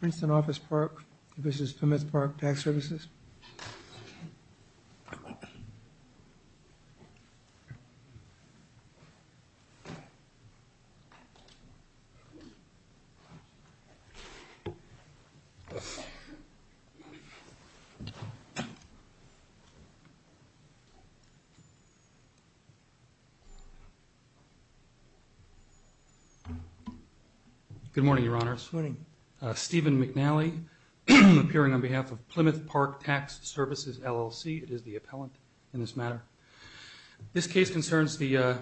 This is Pymouth Park Tax Services. Good morning, Your Honors. Stephen McNally, appearing on behalf of Plymouth Park Tax Services, LLC. It is the appellant in this matter. This case concerns the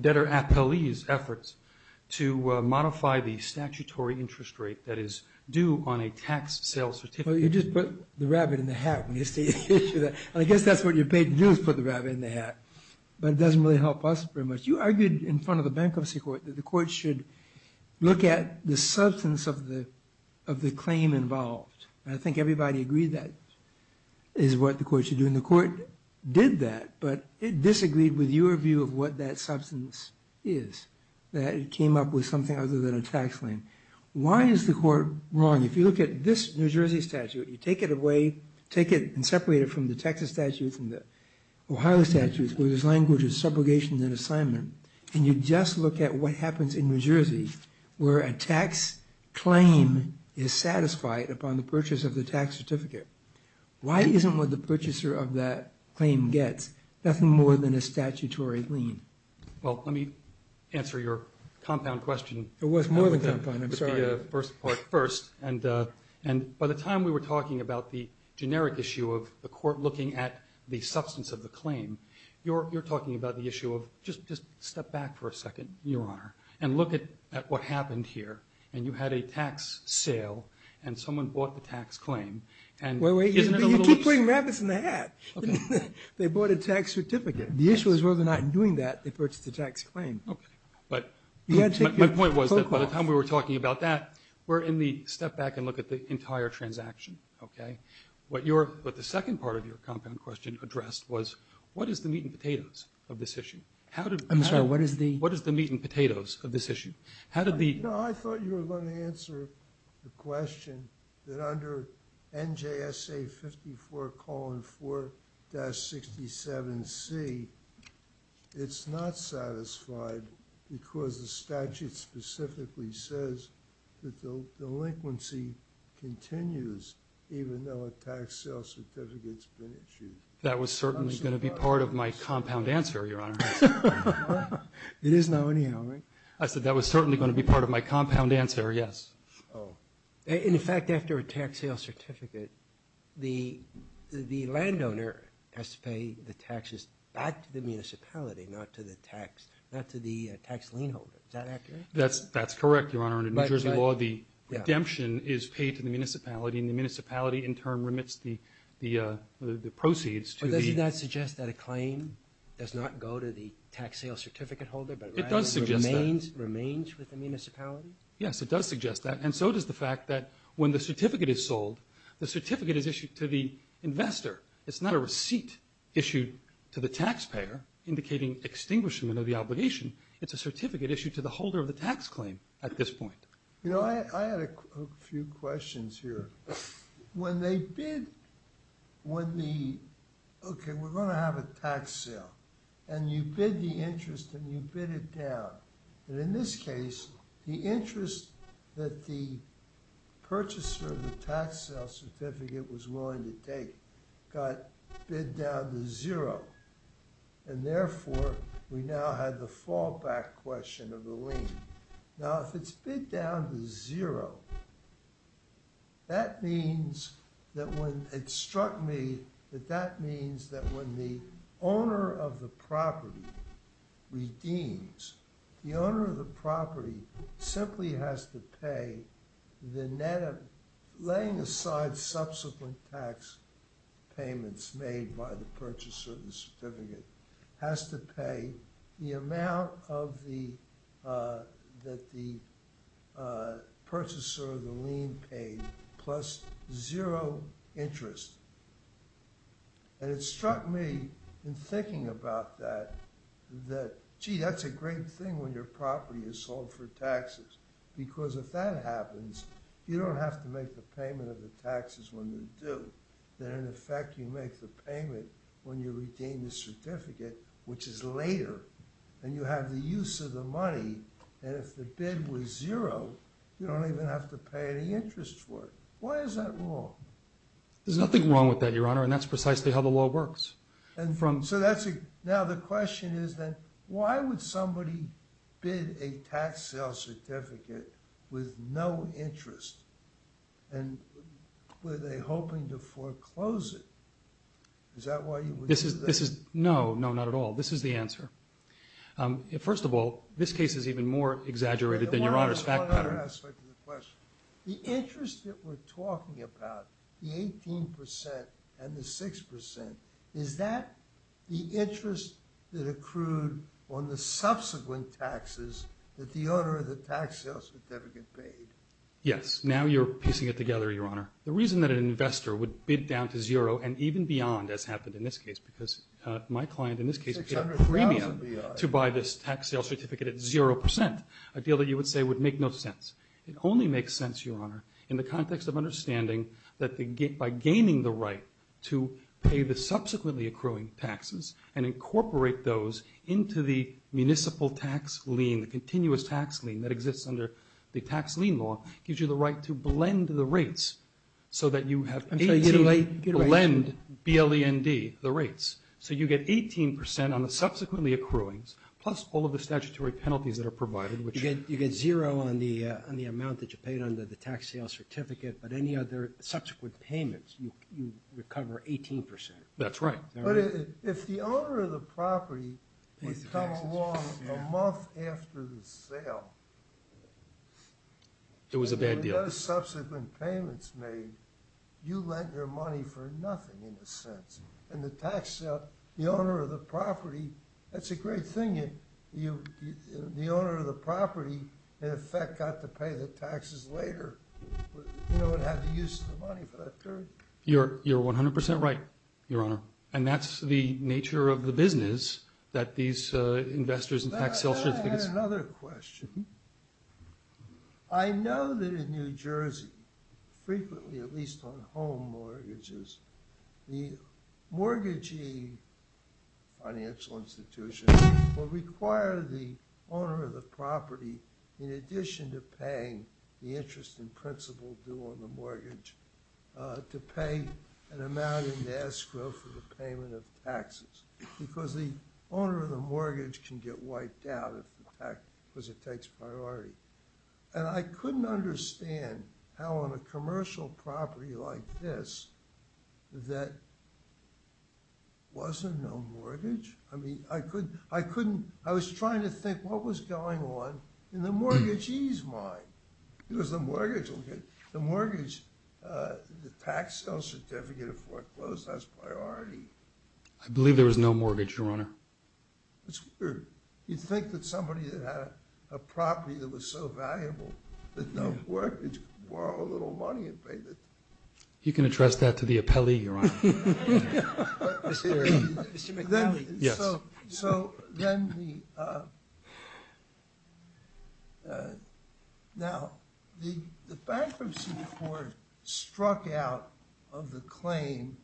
debtor appellee's efforts to modify the statutory interest rate that is due on a tax sales certificate. Well, you just put the rabbit in the hat. I guess that's what you're paid to do is put the rabbit in the hat. But it doesn't really help us very much. You argued in front of the Bankruptcy Court that the court should look at the substance of the claim involved. I think everybody agreed that is what the court should do. And the court did that, but it disagreed with your view of what that substance is, that it came up with something other than a tax claim. Why is the court wrong? If you look at this New Jersey statute, you take it away, take it and separate it from the Texas statute and the Ohio statute, which is language of subrogation and assignment, and you just look at what happens in New Jersey where a tax claim is satisfied upon the purchase of the tax certificate, why isn't what the purchaser of that claim gets nothing more than a statutory lien? Well, let me answer your compound question. It was more than compound. I'm sorry. It would be first part first. And by the time we were talking about the generic issue of the court looking at the substance of the claim, you're talking about the issue of just step back for a second, Your Honor, and look at what happened here. And you had a tax sale and someone bought the tax claim. Wait, wait. Isn't it a little loose? You keep putting rabbits in the hat. They bought a tax certificate. The issue is whether or not in doing that they purchased the tax claim. Okay. But my point was that by the time we were talking about that, we're in the step back and look at the entire transaction. Okay. But the second part of your compound question addressed was, what is the meat and potatoes of this issue? I'm sorry. What is the meat and potatoes of this issue? I thought you were going to answer the question that under NJSA 54-4-67C, it's not satisfied because the statute specifically says that delinquency continues even though a tax sale certificate's been issued. That was certainly going to be part of my compound answer, Your Honor. It is now anyhow, right? I said that was certainly going to be part of my compound answer, yes. Oh. In fact, after a tax sale certificate, the landowner has to pay the taxes back to the municipality, not to the tax lien holder. Is that accurate? That's correct, Your Honor. In New Jersey law, the redemption is paid to the municipality, and the municipality in turn remits the proceeds to the – But doesn't that suggest that a claim does not go to the tax sale certificate holder but rather remains with the municipality? Yes, it does suggest that. And so does the fact that when the certificate is sold, the certificate is issued to the investor. It's not a receipt issued to the taxpayer indicating extinguishment of the obligation. It's a certificate issued to the holder of the tax claim at this point. You know, I had a few questions here. When they bid when the – okay, we're going to have a tax sale, and you bid the interest and you bid it down. And in this case, the interest that the purchaser of the tax sale certificate was willing to take got bid down to zero, and therefore we now have the fallback question of the lien. Now, if it's bid down to zero, that means that when – the owner of the property simply has to pay the net of – laying aside subsequent tax payments made by the purchaser of the certificate, has to pay the amount of the – that the purchaser of the lien paid plus zero interest. And it struck me in thinking about that that, gee, that's a great thing when your property is sold for taxes, because if that happens, you don't have to make the payment of the taxes when they're due. Then in effect, you make the payment when you retain the certificate, which is later, and you have the use of the money. And if the bid was zero, you don't even have to pay any interest for it. Why is that wrong? There's nothing wrong with that, Your Honor, and that's precisely how the law works. And so that's a – now the question is then, why would somebody bid a tax sale certificate with no interest, and were they hoping to foreclose it? Is that why you would do that? No, no, not at all. This is the answer. First of all, this case is even more exaggerated than Your Honor's fact pattern. The interest that we're talking about, the 18 percent and the 6 percent, is that the interest that accrued on the subsequent taxes that the owner of the tax sale certificate paid? Yes. Now you're piecing it together, Your Honor. The reason that an investor would bid down to zero, and even beyond as happened in this case, because my client in this case paid a premium to buy this tax sale certificate at 0 percent, a deal that you would say would make no sense. It only makes sense, Your Honor, in the context of understanding that by gaining the right to pay the subsequently accruing taxes and incorporate those into the municipal tax lien, the continuous tax lien that exists under the tax lien law, gives you the right to blend the rates so that you have 18 – I'm trying to get away. Blend, B-L-E-N-D, the rates. So you get 18 percent on the subsequently accruings, plus all of the statutory penalties that are provided, which – You get zero on the amount that you paid under the tax sale certificate, but any other subsequent payments, you recover 18 percent. That's right. But if the owner of the property would come along a month after the sale – It was a bad deal. – and there were no subsequent payments made, you lent your money for nothing, in a sense. And the tax sale, the owner of the property – that's a great thing. The owner of the property, in effect, got to pay the taxes later and have the use of the money for that period. You're 100 percent right, Your Honor. And that's the nature of the business, that these investors in tax sale certificates – May I add another question? I know that in New Jersey, frequently, at least on home mortgages, the mortgagee financial institutions will require the owner of the property, in addition to paying the interest and principal due on the mortgage, to pay an amount in escrow for the payment of taxes because the owner of the mortgage can get wiped out because it takes priority. And I couldn't understand how on a commercial property like this, that wasn't no mortgage? I mean, I couldn't – I was trying to think what was going on in the mortgagee's mind. It was the mortgage. The mortgage, the tax sale certificate of foreclosed, that's priority. I believe there was no mortgage, Your Honor. That's weird. You'd think that somebody that had a property that was so valuable, that no mortgage, could borrow a little money and pay the – You can address that to the appellee, Your Honor. Mr. McNally. Yes. So then the – now, the bankruptcy court struck out of the claim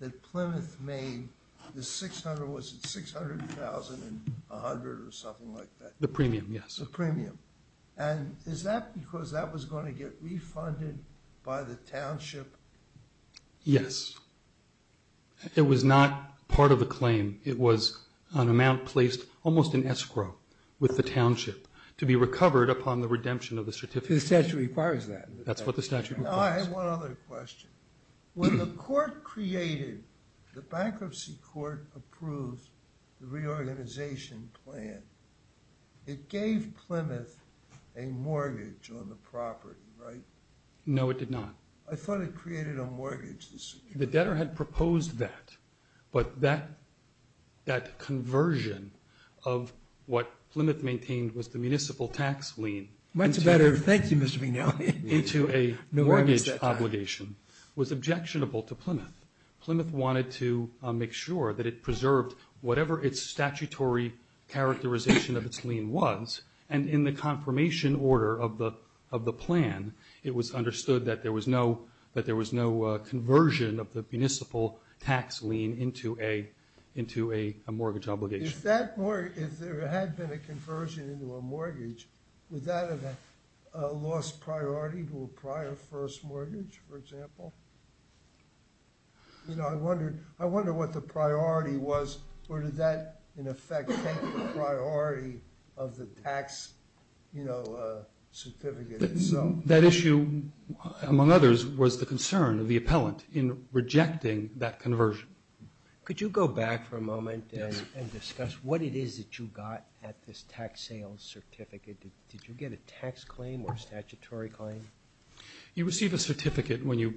that Plymouth made, the 600 – was it 600,000 and 100 or something like that? The premium, yes. The premium. And is that because that was going to get refunded by the township? Yes. It was not part of the claim. It was an amount placed almost in escrow with the township to be recovered upon the redemption of the certificate. The statute requires that. That's what the statute requires. I have one other question. When the court created – the bankruptcy court approved the reorganization plan, it gave Plymouth a mortgage on the property, right? No, it did not. I thought it created a mortgage. The debtor had proposed that. But that conversion of what Plymouth maintained was the municipal tax lien – Much better. Thank you, Mr. McNally. – into a mortgage obligation was objectionable to Plymouth. Plymouth wanted to make sure that it preserved whatever its statutory characterization of its lien was. And in the confirmation order of the plan, it was understood that there was no conversion of the municipal tax lien into a mortgage obligation. If there had been a conversion into a mortgage, would that have lost priority to a prior first mortgage, for example? You know, I wonder what the priority was. Or did that, in effect, take the priority of the tax certificate itself? That issue, among others, was the concern of the appellant in rejecting that conversion. Could you go back for a moment and discuss what it is that you got at this tax sales certificate? Did you get a tax claim or a statutory claim? You receive a certificate when you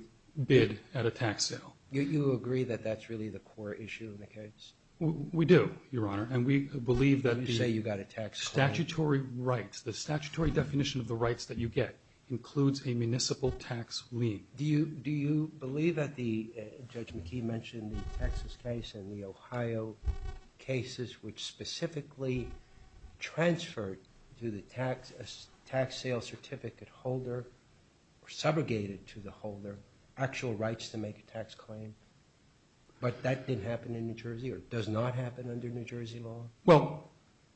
bid at a tax sale. You agree that that's really the core issue in the case? We do, Your Honor, and we believe that the statutory rights, the statutory definition of the rights that you get, includes a municipal tax lien. Do you believe that Judge McKee mentioned the Texas case and the Ohio cases, which specifically transferred to the tax sales certificate holder or subrogated to the holder actual rights to make a tax claim, but that didn't happen in New Jersey or does not happen under New Jersey law? Well,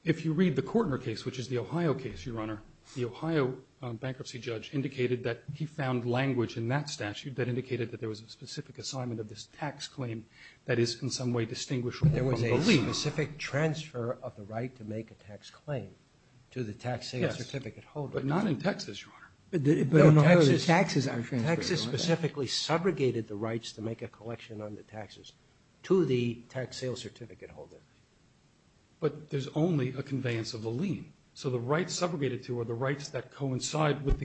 if you read the Kortner case, which is the Ohio case, Your Honor, the Ohio bankruptcy judge indicated that he found language in that statute that indicated that there was a specific assignment of this tax claim that is in some way distinguishable from belief. There was a specific transfer of the right to make a tax claim to the tax sales certificate holder. Yes, but not in Texas, Your Honor. But in Ohio, the taxes aren't transferred, Your Honor. Texas specifically subrogated the rights to make a collection on the taxes to the tax sales certificate holder. But there's only a conveyance of the lien. So the rights subrogated to are the rights that coincide with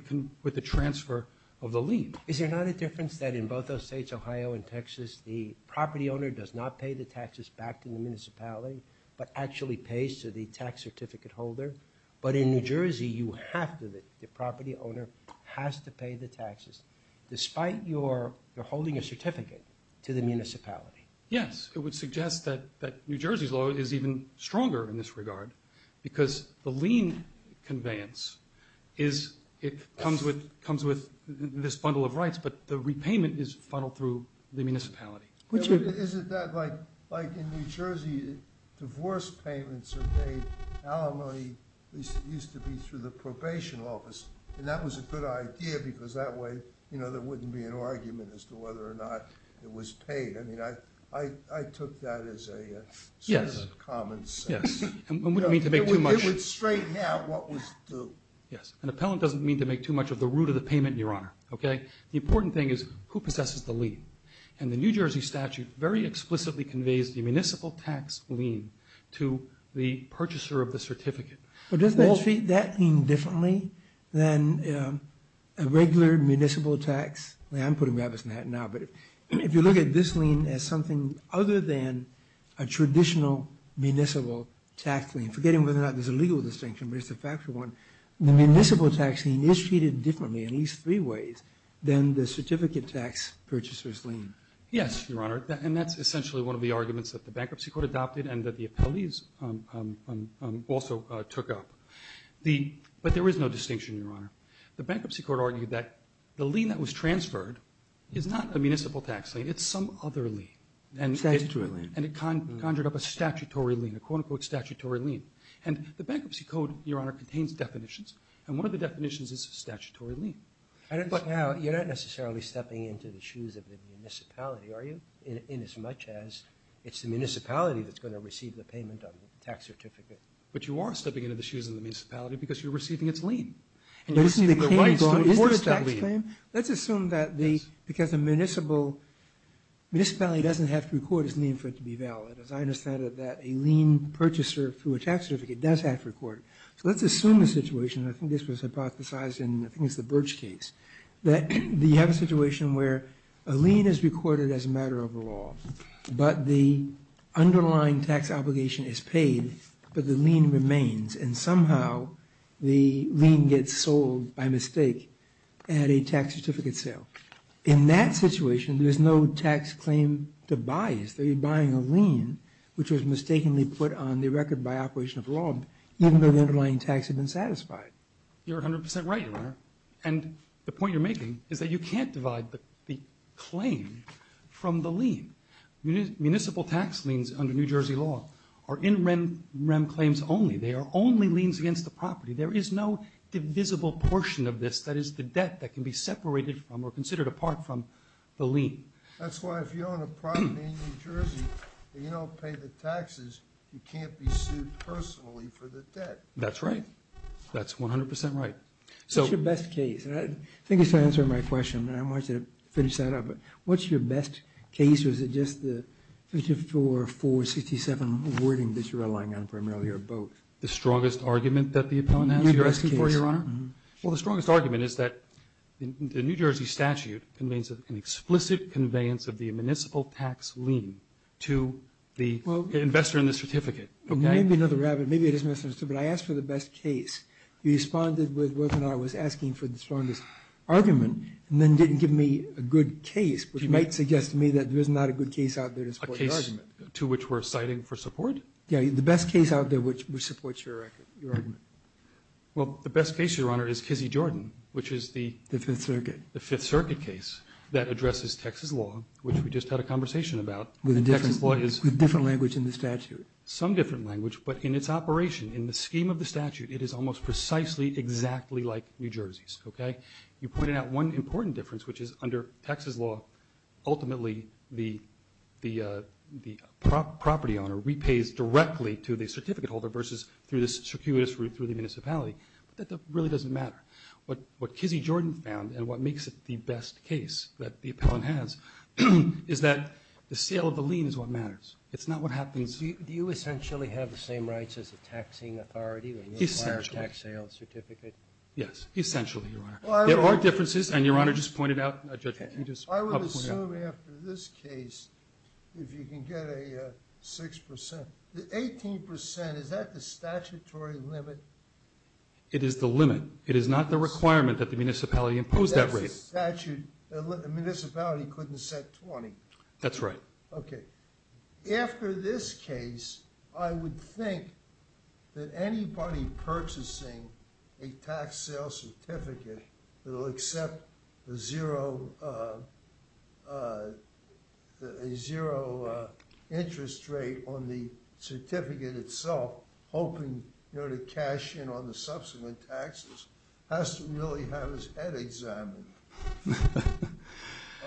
the transfer of the lien. Is there not a difference that in both those states, Ohio and Texas, the property owner does not pay the taxes back to the municipality but actually pays to the tax certificate holder? But in New Jersey, you have to. The property owner has to pay the taxes despite your holding a certificate to the municipality. Yes, it would suggest that New Jersey's law is even stronger in this regard because the lien conveyance comes with this bundle of rights, but the repayment is funneled through the municipality. Isn't that like in New Jersey, divorce payments are made alimony, at least it used to be, through the probation office. And that was a good idea because that way there wouldn't be an argument as to whether or not it was paid. I mean, I took that as a sort of common sense. Yes, and wouldn't mean to make too much. It would straighten out what was due. Yes, an appellant doesn't mean to make too much of the root of the payment, Your Honor. The important thing is who possesses the lien. And the New Jersey statute very explicitly conveys the municipal tax lien to the purchaser of the certificate. But doesn't that treat that lien differently than a regular municipal tax? I'm putting rabbits in a hat now, but if you look at this lien as something other than a traditional municipal tax lien, forgetting whether or not there's a legal distinction, but it's a factual one, the municipal tax lien is treated differently in these three ways than the certificate tax purchaser's lien. Yes, Your Honor, and that's essentially one of the arguments that the Bankruptcy Court adopted and that the appellees also took up. But there is no distinction, Your Honor. The Bankruptcy Court argued that the lien that was transferred is not a municipal tax lien, it's some other lien. Statutory lien. And it conjured up a statutory lien, a quote-unquote statutory lien. And the Bankruptcy Code, Your Honor, contains definitions, and one of the definitions is statutory lien. But now you're not necessarily stepping into the shoes of the municipality, are you? Inasmuch as it's the municipality that's going to receive the payment on the tax certificate. But you are stepping into the shoes of the municipality because you're receiving its lien. Let's assume that because the municipality doesn't have to record its lien for it to be valid. As I understand it, that a lien purchaser through a tax certificate does have to record it. So let's assume the situation, and I think this was hypothesized in, I think it's the Birch case, that you have a situation where a lien is recorded as a matter of law, but the underlying tax obligation is paid, but the lien remains. And somehow the lien gets sold by mistake at a tax certificate sale. In that situation, there's no tax claim to buy it. If they're buying a lien, which was mistakenly put on the record by operation of law, even though the underlying tax had been satisfied. You're 100% right, Your Honor. And the point you're making is that you can't divide the claim from the lien. Municipal tax liens under New Jersey law are in REM claims only. They are only liens against the property. There is no divisible portion of this that is the debt that can be separated from or considered apart from the lien. That's why if you own a property in New Jersey and you don't pay the taxes, you can't be sued personally for the debt. That's right. That's 100% right. What's your best case? I think you're trying to answer my question, and I want you to finish that up. What's your best case, or is it just the 54-467 wording that you're relying on primarily, or both? The strongest argument that the appellant has that you're asking for, Your Honor? Your best case. Well, the strongest argument is that the New Jersey statute conveys an explicit conveyance of the municipal tax lien to the investor in the certificate. Maybe another rabbit. Maybe it is in the certificate. I asked for the best case. You responded with whether or not I was asking for the strongest argument and then didn't give me a good case, which might suggest to me that there is not a good case out there to support the argument. A case to which we're citing for support? Yeah, the best case out there which supports your argument. Well, the best case, Your Honor, is Kizzy Jordan, which is the The Fifth Circuit. The Fifth Circuit case that addresses Texas law, which we just had a conversation about. With a different language in the statute. Some different language, but in its operation, in the scheme of the statute, it is almost precisely exactly like New Jersey's. Okay? You pointed out one important difference, which is under Texas law, ultimately, the property owner repays directly to the certificate holder versus through this circuitous route through the municipality. That really doesn't matter. What Kizzy Jordan found, and what makes it the best case that the appellant has, is that the sale of the lien is what matters. It's not what happens. Do you essentially have the same rights as the taxing authority when you require a tax sale certificate? Yes, essentially, Your Honor. There are differences, and Your Honor just pointed out. I would assume after this case, if you can get a 6 percent. The 18 percent, is that the statutory limit? It is the limit. It is not the requirement that the municipality impose that rate. That's the statute. The municipality couldn't set 20. That's right. Okay. After this case, I would think that anybody purchasing a tax sale certificate that will accept a zero interest rate on the certificate itself, hoping to cash in on the subsequent taxes, has to really have his head examined.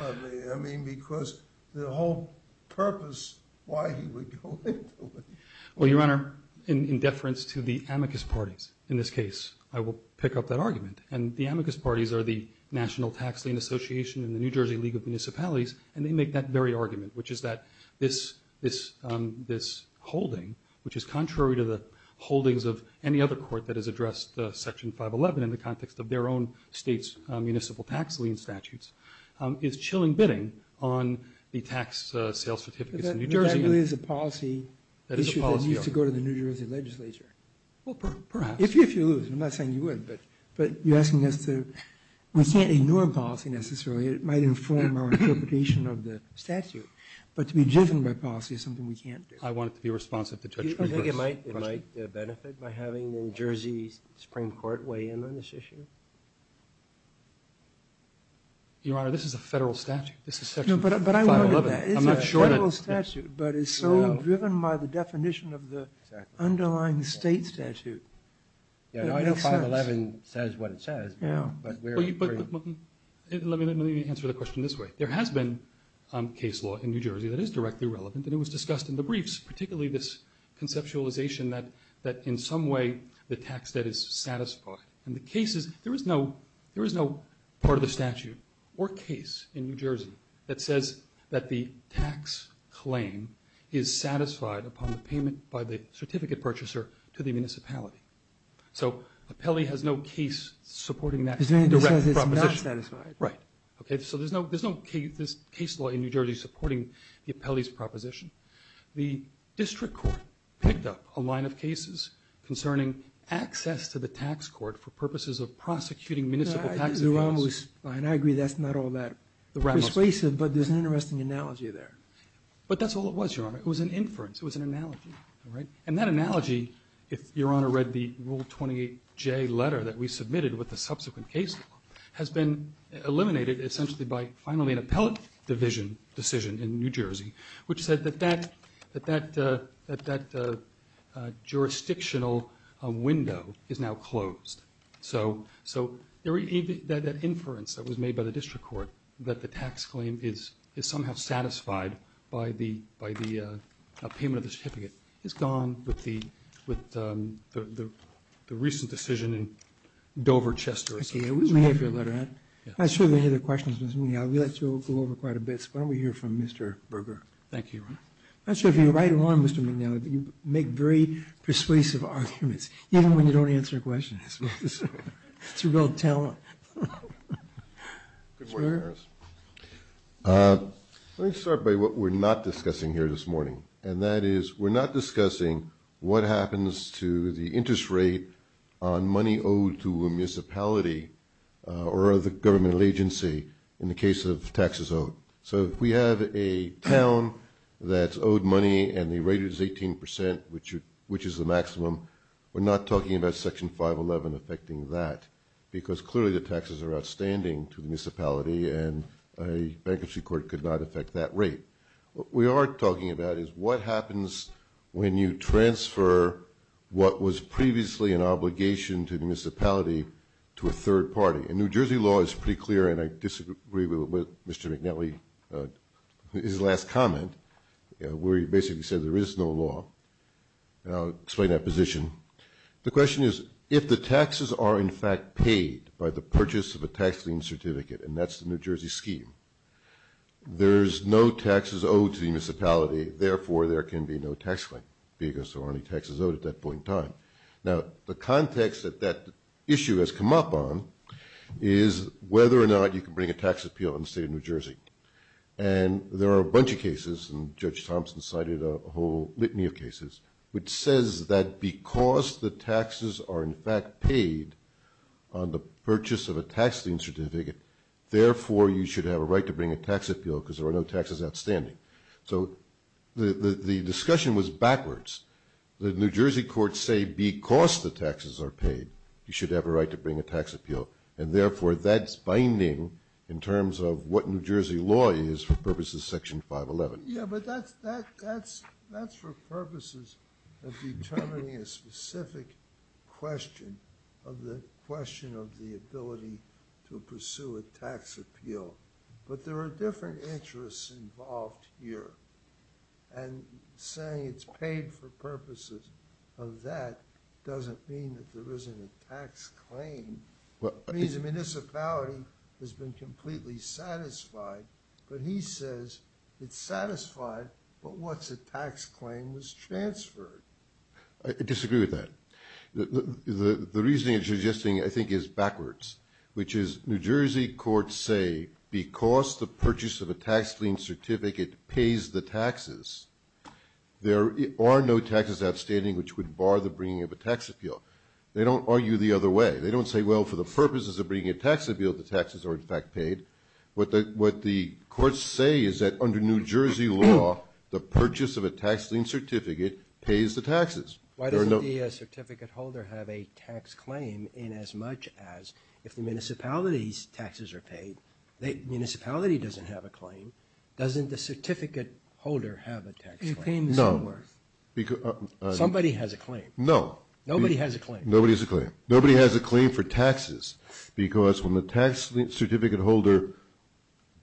I mean, because the whole purpose why he would go into it. Well, Your Honor, in deference to the amicus parties in this case, I will pick up that argument. And the amicus parties are the National Tax Lien Association and the New Jersey League of Municipalities, and they make that very argument, which is that this holding, which is contrary to the holdings of any other court that has addressed Section 511 in the context of their own state's municipal tax lien statutes, is chilling bidding on the tax sales certificates in New Jersey. That really is a policy issue that needs to go to the New Jersey legislature. Well, perhaps. If you lose. I'm not saying you would, but you're asking us to. We can't ignore policy necessarily. It might inform our interpretation of the statute. But to be driven by policy is something we can't do. I want it to be responsive to touch. I think it might benefit by having the New Jersey Supreme Court weigh in on this issue. Your Honor, this is a federal statute. This is Section 511. But I wanted that. It's a federal statute, but it's so driven by the definition of the underlying state statute. Yeah, I know 511 says what it says. Yeah. Let me answer the question this way. There has been case law in New Jersey that is directly relevant, and it was discussed in the briefs, particularly this conceptualization that in some way the tax debt is satisfied. And the case is there is no part of the statute or case in New Jersey that says that the tax claim is satisfied upon the payment by the certificate purchaser to the municipality. So Apelli has no case supporting that direct proposition. It says it's not satisfied. Right. Okay. So there's no case law in New Jersey supporting the Apelli's proposition. The district court picked up a line of cases concerning access to the tax court for purposes of prosecuting municipal tax evasion. And I agree that's not all that persuasive, but there's an interesting analogy there. It was an inference. It was an analogy. All right. And that analogy, if Your Honor read the Rule 28J letter that we submitted with the subsequent case law, has been eliminated essentially by finally an appellate division decision in New Jersey which said that that jurisdictional window is now closed. So that inference that was made by the district court that the tax claim is somehow satisfied by the payment of the certificate is gone with the recent decision in Dover, Chester. Okay. May I have your letter, Ed? I'm not sure if you have any other questions, Mr. McNally. We'd like to go over quite a bit. Why don't we hear from Mr. Berger? Thank you, Your Honor. I'm not sure if you're right or wrong, Mr. McNally. You make very persuasive arguments even when you don't answer questions. That's a real talent. Good work, Harris. Let me start by what we're not discussing here this morning, and that is we're not discussing what happens to the interest rate on money owed to a municipality or the governmental agency in the case of taxes owed. So if we have a town that's owed money and the rate is 18%, which is the maximum, we're not talking about Section 511 affecting that because clearly the taxes are outstanding to the municipality and a bankruptcy court could not affect that rate. What we are talking about is what happens when you transfer what was previously an obligation to the municipality to a third party. And New Jersey law is pretty clear, and I disagree with Mr. McNally, his last comment where he basically said there is no law. I'll explain that position. The question is if the taxes are in fact paid by the purchase of a tax lien certificate, and that's the New Jersey scheme, there's no taxes owed to the municipality, therefore there can be no tax lien because there aren't any taxes owed at that point in time. Now, the context that that issue has come up on is whether or not you can bring a tax appeal in the state of New Jersey. And there are a bunch of cases, and Judge Thompson cited a whole litany of are in fact paid on the purchase of a tax lien certificate, therefore you should have a right to bring a tax appeal because there are no taxes outstanding. So the discussion was backwards. The New Jersey courts say because the taxes are paid, you should have a right to bring a tax appeal, and therefore that's binding in terms of what New Jersey law is for purposes of Section 511. Yeah, but that's for purposes of determining a specific question of the question of the ability to pursue a tax appeal. But there are different interests involved here. And saying it's paid for purposes of that doesn't mean that there isn't a tax claim. It means the municipality has been completely satisfied, but he says it's satisfied, but what's a tax claim was transferred. I disagree with that. The reasoning that you're suggesting I think is backwards, which is New Jersey courts say because the purchase of a tax lien certificate pays the taxes, there are no taxes outstanding, which would bar the bringing of a tax appeal. They don't argue the other way. They don't say, well, for the purposes of bringing a tax appeal, the taxes are in fact paid. What the courts say is that under New Jersey law, the purchase of a tax lien certificate pays the taxes. Why doesn't the certificate holder have a tax claim in as much as if the municipality's taxes are paid, the municipality doesn't have a claim, doesn't the certificate holder have a tax claim? No. Somebody has a claim. No. Nobody has a claim. Nobody has a claim. Nobody has a claim for taxes, because when the tax certificate holder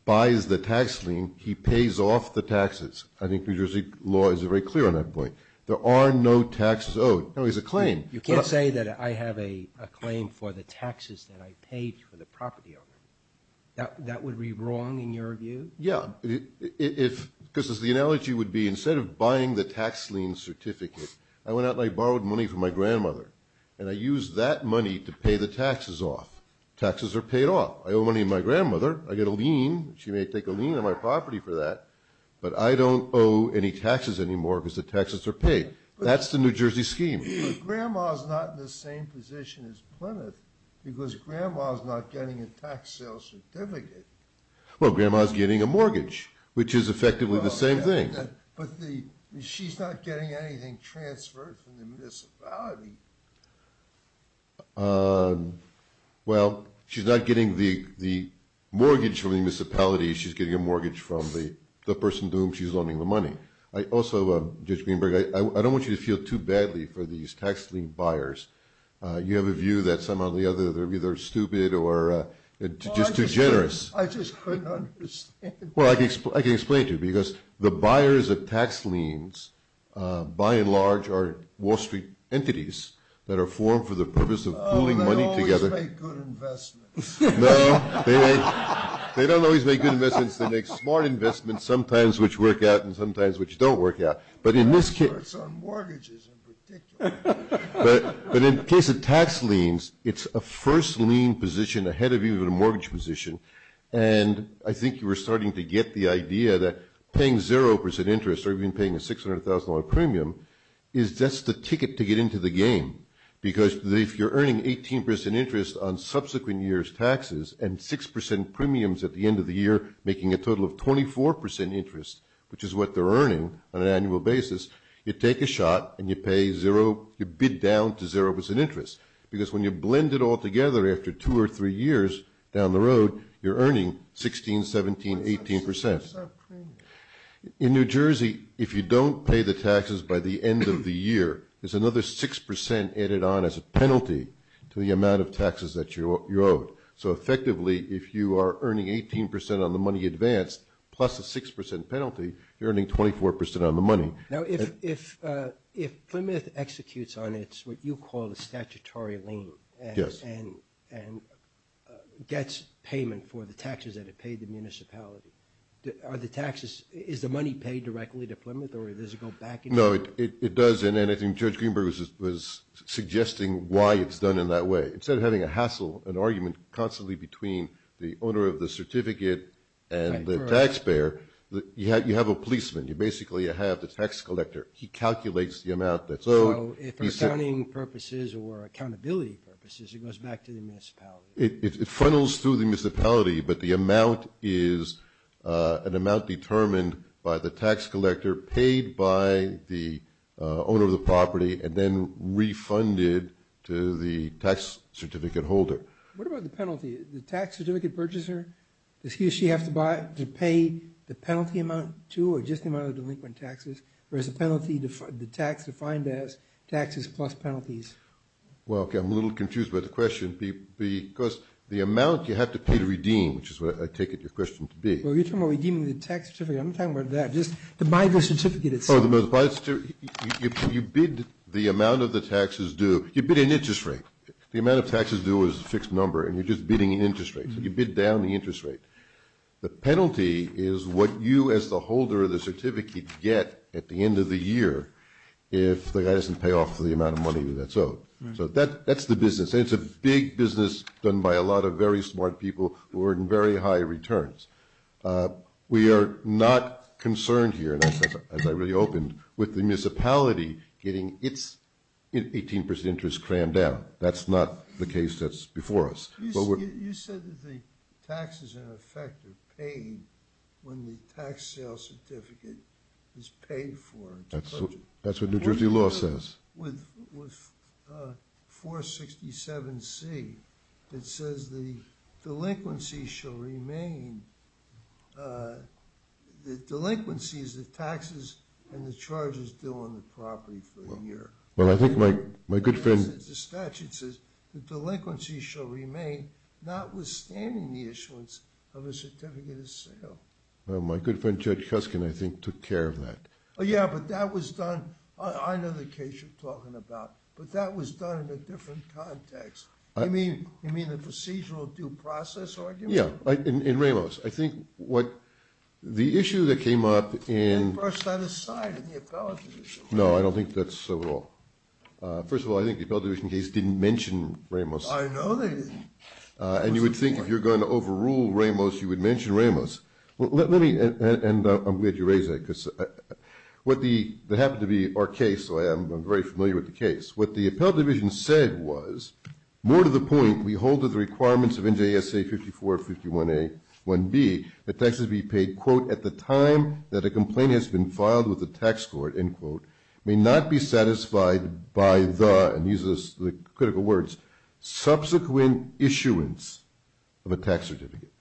buys the tax lien, he pays off the taxes. I think New Jersey law is very clear on that point. There are no taxes owed. No, it's a claim. You can't say that I have a claim for the taxes that I paid for the property owner. That would be wrong in your view? Yeah. Because the analogy would be instead of buying the tax lien certificate, I went out and I borrowed money from my grandmother, and I used that money to pay the taxes off. Taxes are paid off. I owe money to my grandmother. I get a lien. She may take a lien on my property for that, but I don't owe any taxes anymore because the taxes are paid. That's the New Jersey scheme. But grandma's not in the same position as Plymouth, because grandma's not getting a tax sale certificate. Well, grandma's getting a mortgage, which is effectively the same thing. She's not getting anything transferred from the municipality. Well, she's not getting the mortgage from the municipality. She's getting a mortgage from the person to whom she's loaning the money. Also, Judge Greenberg, I don't want you to feel too badly for these tax lien buyers. You have a view that some of the others are either stupid or just too generous. I just couldn't understand. Well, I can explain it to you, because the buyers of tax liens, by and large, are Wall Street entities that are formed for the purpose of pooling money together. They don't always make good investments. No. They don't always make good investments. They make smart investments, sometimes which work out, and sometimes which don't work out. But in this case. That's on mortgages in particular. But in the case of tax liens, it's a first lien position ahead of even a mortgage position, and I think you were starting to get the idea that paying 0% interest or even paying a $600,000 premium is just the ticket to get into the game. Because if you're earning 18% interest on subsequent year's taxes and 6% premiums at the end of the year, making a total of 24% interest, which is what they're earning on an annual basis, you take a shot and you pay zero, you bid down to 0% interest. Because when you blend it all together after two or three years down the road, you're earning 16%, 17%, 18%. In New Jersey, if you don't pay the taxes by the end of the year, there's another 6% added on as a penalty to the amount of taxes that you owe. So effectively, if you are earning 18% on the money advanced plus a 6% penalty, you're earning 24% on the money. Now, if Plymouth executes on what you call the statutory lien and gets payment for the taxes that it paid the municipality, are the taxes, is the money paid directly to Plymouth or does it go back? No, it doesn't. And I think Judge Greenberg was suggesting why it's done in that way. Instead of having a hassle, an argument constantly between the owner of the certificate and the taxpayer, you have a policeman. You basically have the tax collector. He calculates the amount that's owed. So if for accounting purposes or accountability purposes, it goes back to the municipality. It funnels through the municipality, but the amount is an amount determined by the tax collector paid by the owner of the property and then refunded to the tax certificate holder. What about the penalty? The tax certificate purchaser, does he or she have to pay the penalty amount too or just the amount of delinquent taxes? Or is the penalty, the tax defined as taxes plus penalties? Well, I'm a little confused by the question. Because the amount you have to pay to redeem, which is what I take your question to be. Well, you're talking about redeeming the tax certificate. I'm not talking about that. Just the Bible certificate itself. Oh, the Bible certificate. You bid the amount of the taxes due. You bid an interest rate. The amount of taxes due is a fixed number and you're just bidding an interest rate. So you bid down the interest rate. The penalty is what you as the holder of the certificate get at the end of the year if the guy doesn't pay off the amount of money that's owed. So that's the business. It's a big business done by a lot of very smart people who are in very high returns. We are not concerned here, as I really opened, with the municipality getting its 18% interest crammed down. That's not the case that's before us. You said that the taxes, in effect, are paid when the tax sale certificate is paid for. That's what New Jersey law says. With 467C, it says the delinquency shall remain. The delinquency is the taxes and the charges due on the property for the year. Well, I think my good friend… The statute says the delinquency shall remain, notwithstanding the issuance of a certificate of sale. Well, my good friend Judge Huskin, I think, took care of that. Oh, yeah, but that was done. I know the case you're talking about, but that was done in a different context. You mean the procedural due process argument? Yeah, in Ramos. I think what the issue that came up in… They brushed that aside in the appellate division. No, I don't think that's so at all. First of all, I think the appellate division case didn't mention Ramos. I know they didn't. And you would think if you're going to overrule Ramos, you would mention Ramos. And I'm glad you raised that because that happened to be our case, so I'm very familiar with the case. What the appellate division said was, more to the point we hold to the requirements of NJSA 5451A1B, that taxes be paid, quote, at the time that a complaint has been filed with the tax court, end quote, may not be satisfied by the, and use the critical words, subsequent issuance of a tax certificate.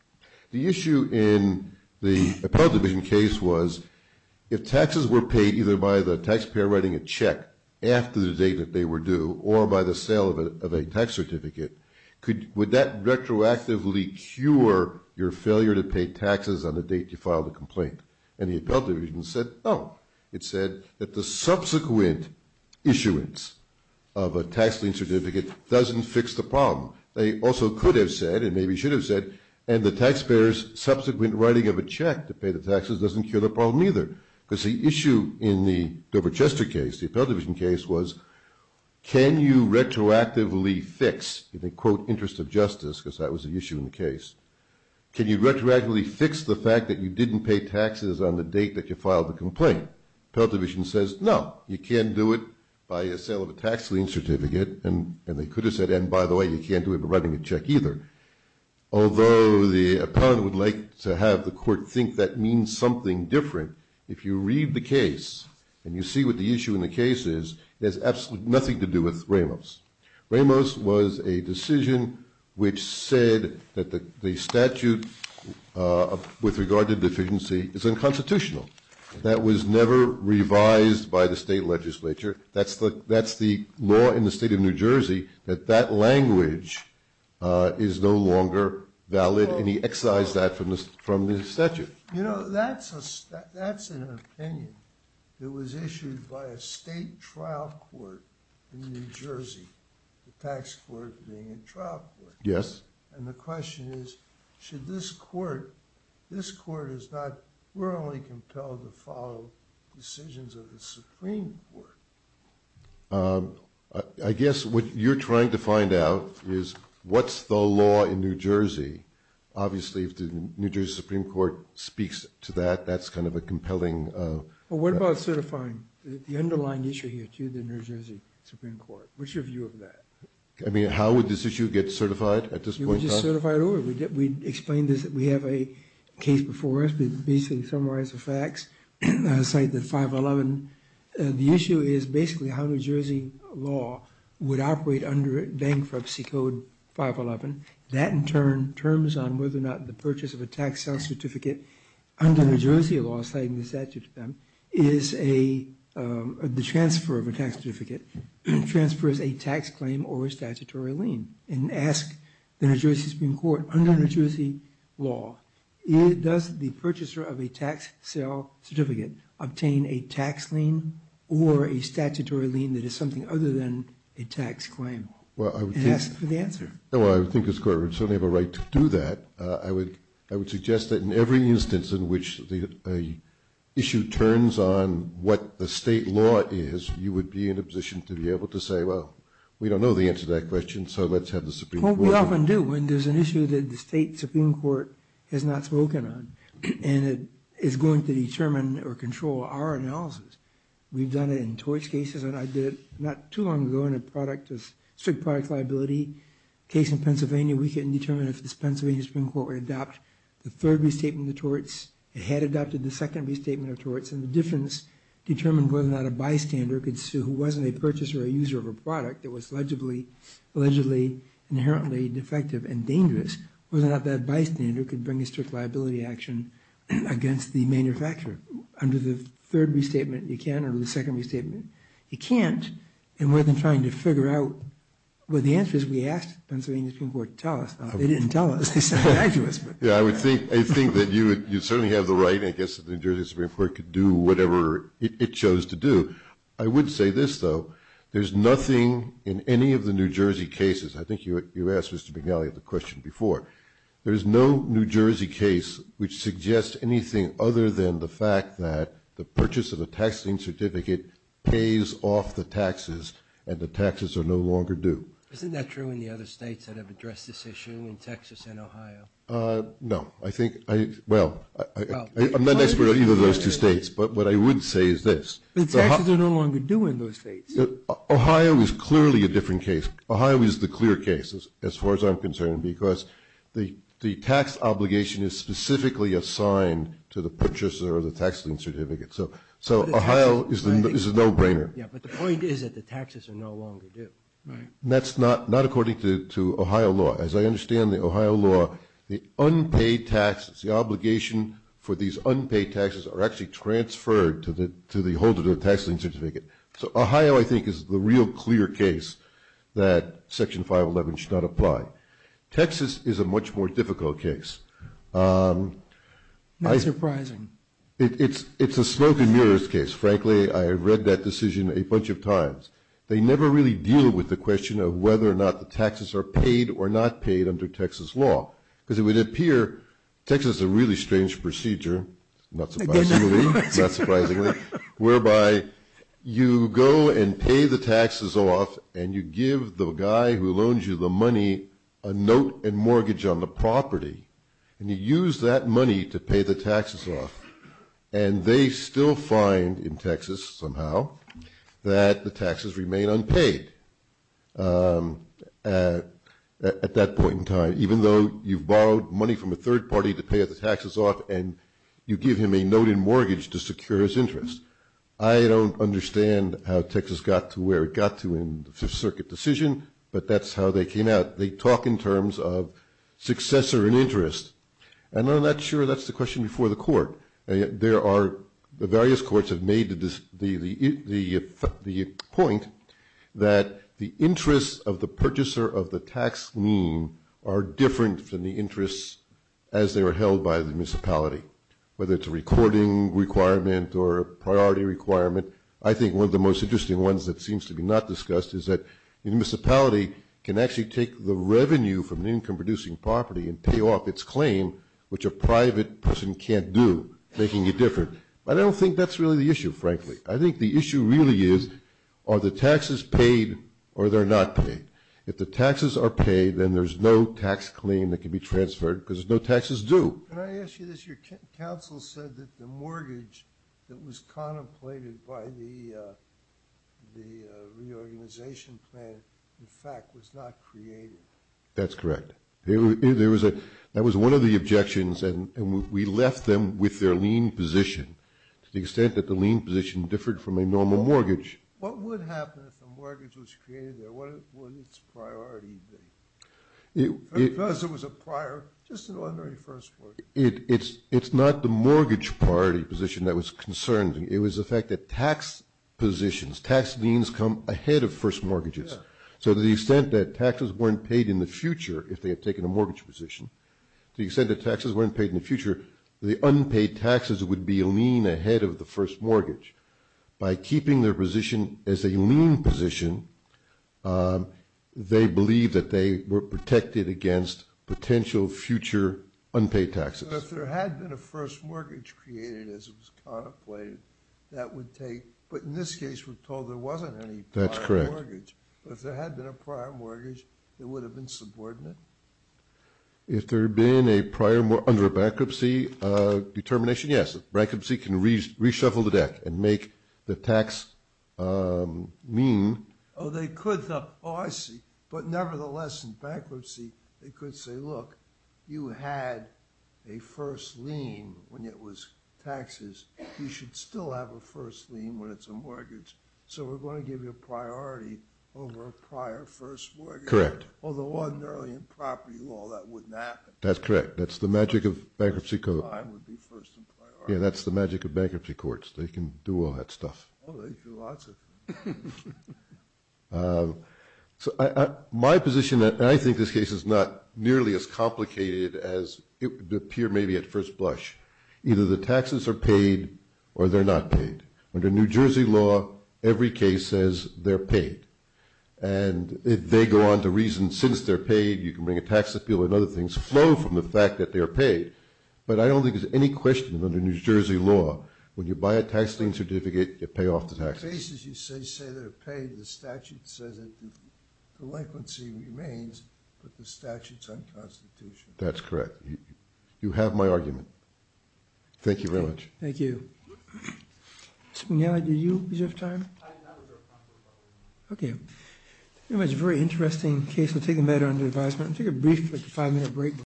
The issue in the appellate division case was if taxes were paid either by the taxpayer writing a check after the date that they were due or by the sale of a tax certificate, would that retroactively cure your failure to pay taxes on the date you filed a complaint? And the appellate division said no. It said that the subsequent issuance of a tax lien certificate doesn't fix the problem. They also could have said and maybe should have said, and the taxpayer's subsequent writing of a check to pay the taxes doesn't cure the problem either. Because the issue in the Doverchester case, the appellate division case was, can you retroactively fix, and they quote interest of justice because that was the issue in the case, can you retroactively fix the fact that you didn't pay taxes on the date that you filed the complaint? Appellate division says no, you can't do it by a sale of a tax lien certificate, and they could have said, and by the way you can't do it by writing a check either. Although the appellate would like to have the court think that means something different, if you read the case and you see what the issue in the case is, it has absolutely nothing to do with Ramos. Ramos was a decision which said that the statute with regard to deficiency is unconstitutional. That was never revised by the state legislature. That's the law in the state of New Jersey, that that language is no longer valid, and he excised that from the statute. You know, that's an opinion that was issued by a state trial court in New Jersey, the tax court being a trial court. Yes. And the question is, should this court, this court is not, not only compelled to follow decisions of the Supreme Court. I guess what you're trying to find out is what's the law in New Jersey? Obviously if the New Jersey Supreme Court speaks to that, that's kind of a compelling. Well, what about certifying the underlying issue here to the New Jersey Supreme Court? What's your view of that? I mean, how would this issue get certified at this point? We explained this. We have a case before us, but basically summarize the facts, cite the 511. The issue is basically how New Jersey law would operate under bankruptcy code 511. That in turn, terms on whether or not the purchase of a tax certificate under New Jersey law, citing the statute of them is a, the transfer of a tax certificate transfers a tax claim or statutory lien and ask the New Jersey Supreme Court under New Jersey law, does the purchaser of a tax sale certificate obtain a tax lien or a statutory lien that is something other than a tax claim? Well, I would ask for the answer. No, I think this court would certainly have a right to do that. I would, I would suggest that in every instance in which the issue turns on what the state law is, you would be in a position to be able to say, well, we don't know the answer to that question. So let's have the Supreme Court. Well, we often do when there's an issue that the state Supreme Court has not spoken on and it is going to determine or control our analysis. We've done it in torts cases and I did not too long ago in a product, a strict product liability case in Pennsylvania. We can determine if this Pennsylvania Supreme Court would adopt the third restatement of torts. It had adopted the second restatement of torts and the difference determined whether or not a bystander could sue who wasn't a purchaser or a user of a product that was allegedly inherently defective and dangerous, whether or not that bystander could bring a strict liability action against the manufacturer. Under the third restatement you can, under the second restatement you can't, and we're then trying to figure out, well, the answer is we asked the Pennsylvania Supreme Court to tell us. They didn't tell us. They said they had to ask us. Yeah, I would think, I think that you would, you certainly have the right, I guess, that the New Jersey Supreme Court could do whatever it chose to do. I would say this, though. There's nothing in any of the New Jersey cases, I think you asked Mr. McNally the question before, there's no New Jersey case which suggests anything other than the fact that the purchase of a tax lien certificate pays off the taxes and the taxes are no longer due. Isn't that true in the other states that have addressed this issue, in Texas and Ohio? No. I think, well, I'm not an expert on either of those two states, but what I would say is this. The taxes are no longer due in those states. Ohio is clearly a different case. Ohio is the clear case as far as I'm concerned because the tax obligation is specifically assigned to the purchaser of the tax lien certificate. So Ohio is a no-brainer. Yeah, but the point is that the taxes are no longer due. Right. And that's not according to Ohio law. As I understand the Ohio law, the unpaid taxes, the obligation for these unpaid taxes are actually transferred to the holder of the tax lien certificate. So Ohio, I think, is the real clear case that Section 511 should not apply. Texas is a much more difficult case. Not surprising. It's a smoke and mirrors case. Frankly, I read that decision a bunch of times. They never really deal with the question of whether or not the taxes are paid or not paid under Texas law because it would appear Texas is a really strange procedure, not surprisingly, whereby you go and pay the taxes off and you give the guy who loans you the money a note and mortgage on the property and you use that money to pay the taxes off. And they still find in Texas somehow that the taxes remain unpaid at that point in time, even though you've borrowed money from a third party to pay the taxes off and you give him a note and mortgage to secure his interest. I don't understand how Texas got to where it got to in the Fifth Circuit decision, but that's how they came out. They talk in terms of successor and interest. And I'm not sure that's the question before the court. There are, the various courts have made the point that the interests of the purchaser of the tax lien are different than the interests as they were held by the purchaser. Whether it's a recording requirement or a priority requirement, I think one of the most interesting ones that seems to be not discussed is that the municipality can actually take the revenue from the income producing property and pay off its claim, which a private person can't do, making it different. But I don't think that's really the issue, frankly. I think the issue really is are the taxes paid or they're not paid. If the taxes are paid, then there's no tax claim that can be transferred because there's no taxes due. Can I ask you this? Your counsel said that the mortgage that was contemplated by the reorganization plan, in fact, was not created. That's correct. There was a, that was one of the objections, and we left them with their lien position to the extent that the lien position differed from a normal mortgage. What would happen if the mortgage was created there? What would its priority be? Because it was a prior, just an ordinary first mortgage. It's not the mortgage priority position that was concerned. It was the fact that tax positions, tax liens come ahead of first mortgages. So to the extent that taxes weren't paid in the future, if they had taken a mortgage position, to the extent that taxes weren't paid in the future, the unpaid taxes would be a lien ahead of the first mortgage. By keeping their position as a lien position, they believed that they were protected against potential future unpaid taxes. So if there had been a first mortgage created, as it was contemplated, that would take, but in this case we're told there wasn't any prior mortgage. That's correct. But if there had been a prior mortgage, it would have been subordinate? If there had been a prior, under a bankruptcy determination, yes. Bankruptcy can reshuffle the deck and make the tax mean. Oh, I see. But nevertheless, in bankruptcy, they could say, look, you had a first lien when it was taxes. You should still have a first lien when it's a mortgage. So we're going to give you a priority over a prior first mortgage. Correct. Although ordinarily in property law that wouldn't happen. That's correct. That's the magic of bankruptcy code. Yeah, that's the magic of bankruptcy courts. They can do all that stuff. Oh, they do lots of it. So my position, and I think this case is not nearly as complicated as it would appear maybe at first blush. Either the taxes are paid or they're not paid. Under New Jersey law, every case says they're paid. And they go on to reason since they're paid, you can bring a tax appeal and other things flow from the fact that they're paid. But I don't think there's any question under New Jersey law, when you buy a tax lien certificate, you pay off the taxes. The cases you say, say they're paid. The statute says that the delinquency remains, but the statute's unconstitutional. That's correct. You have my argument. Thank you very much. Thank you. Mr. McNally, did you reserve time? I reserved time for a couple of questions. Okay. It was a very interesting case. We'll take a minute on the advisement. We'll take a brief five minute break.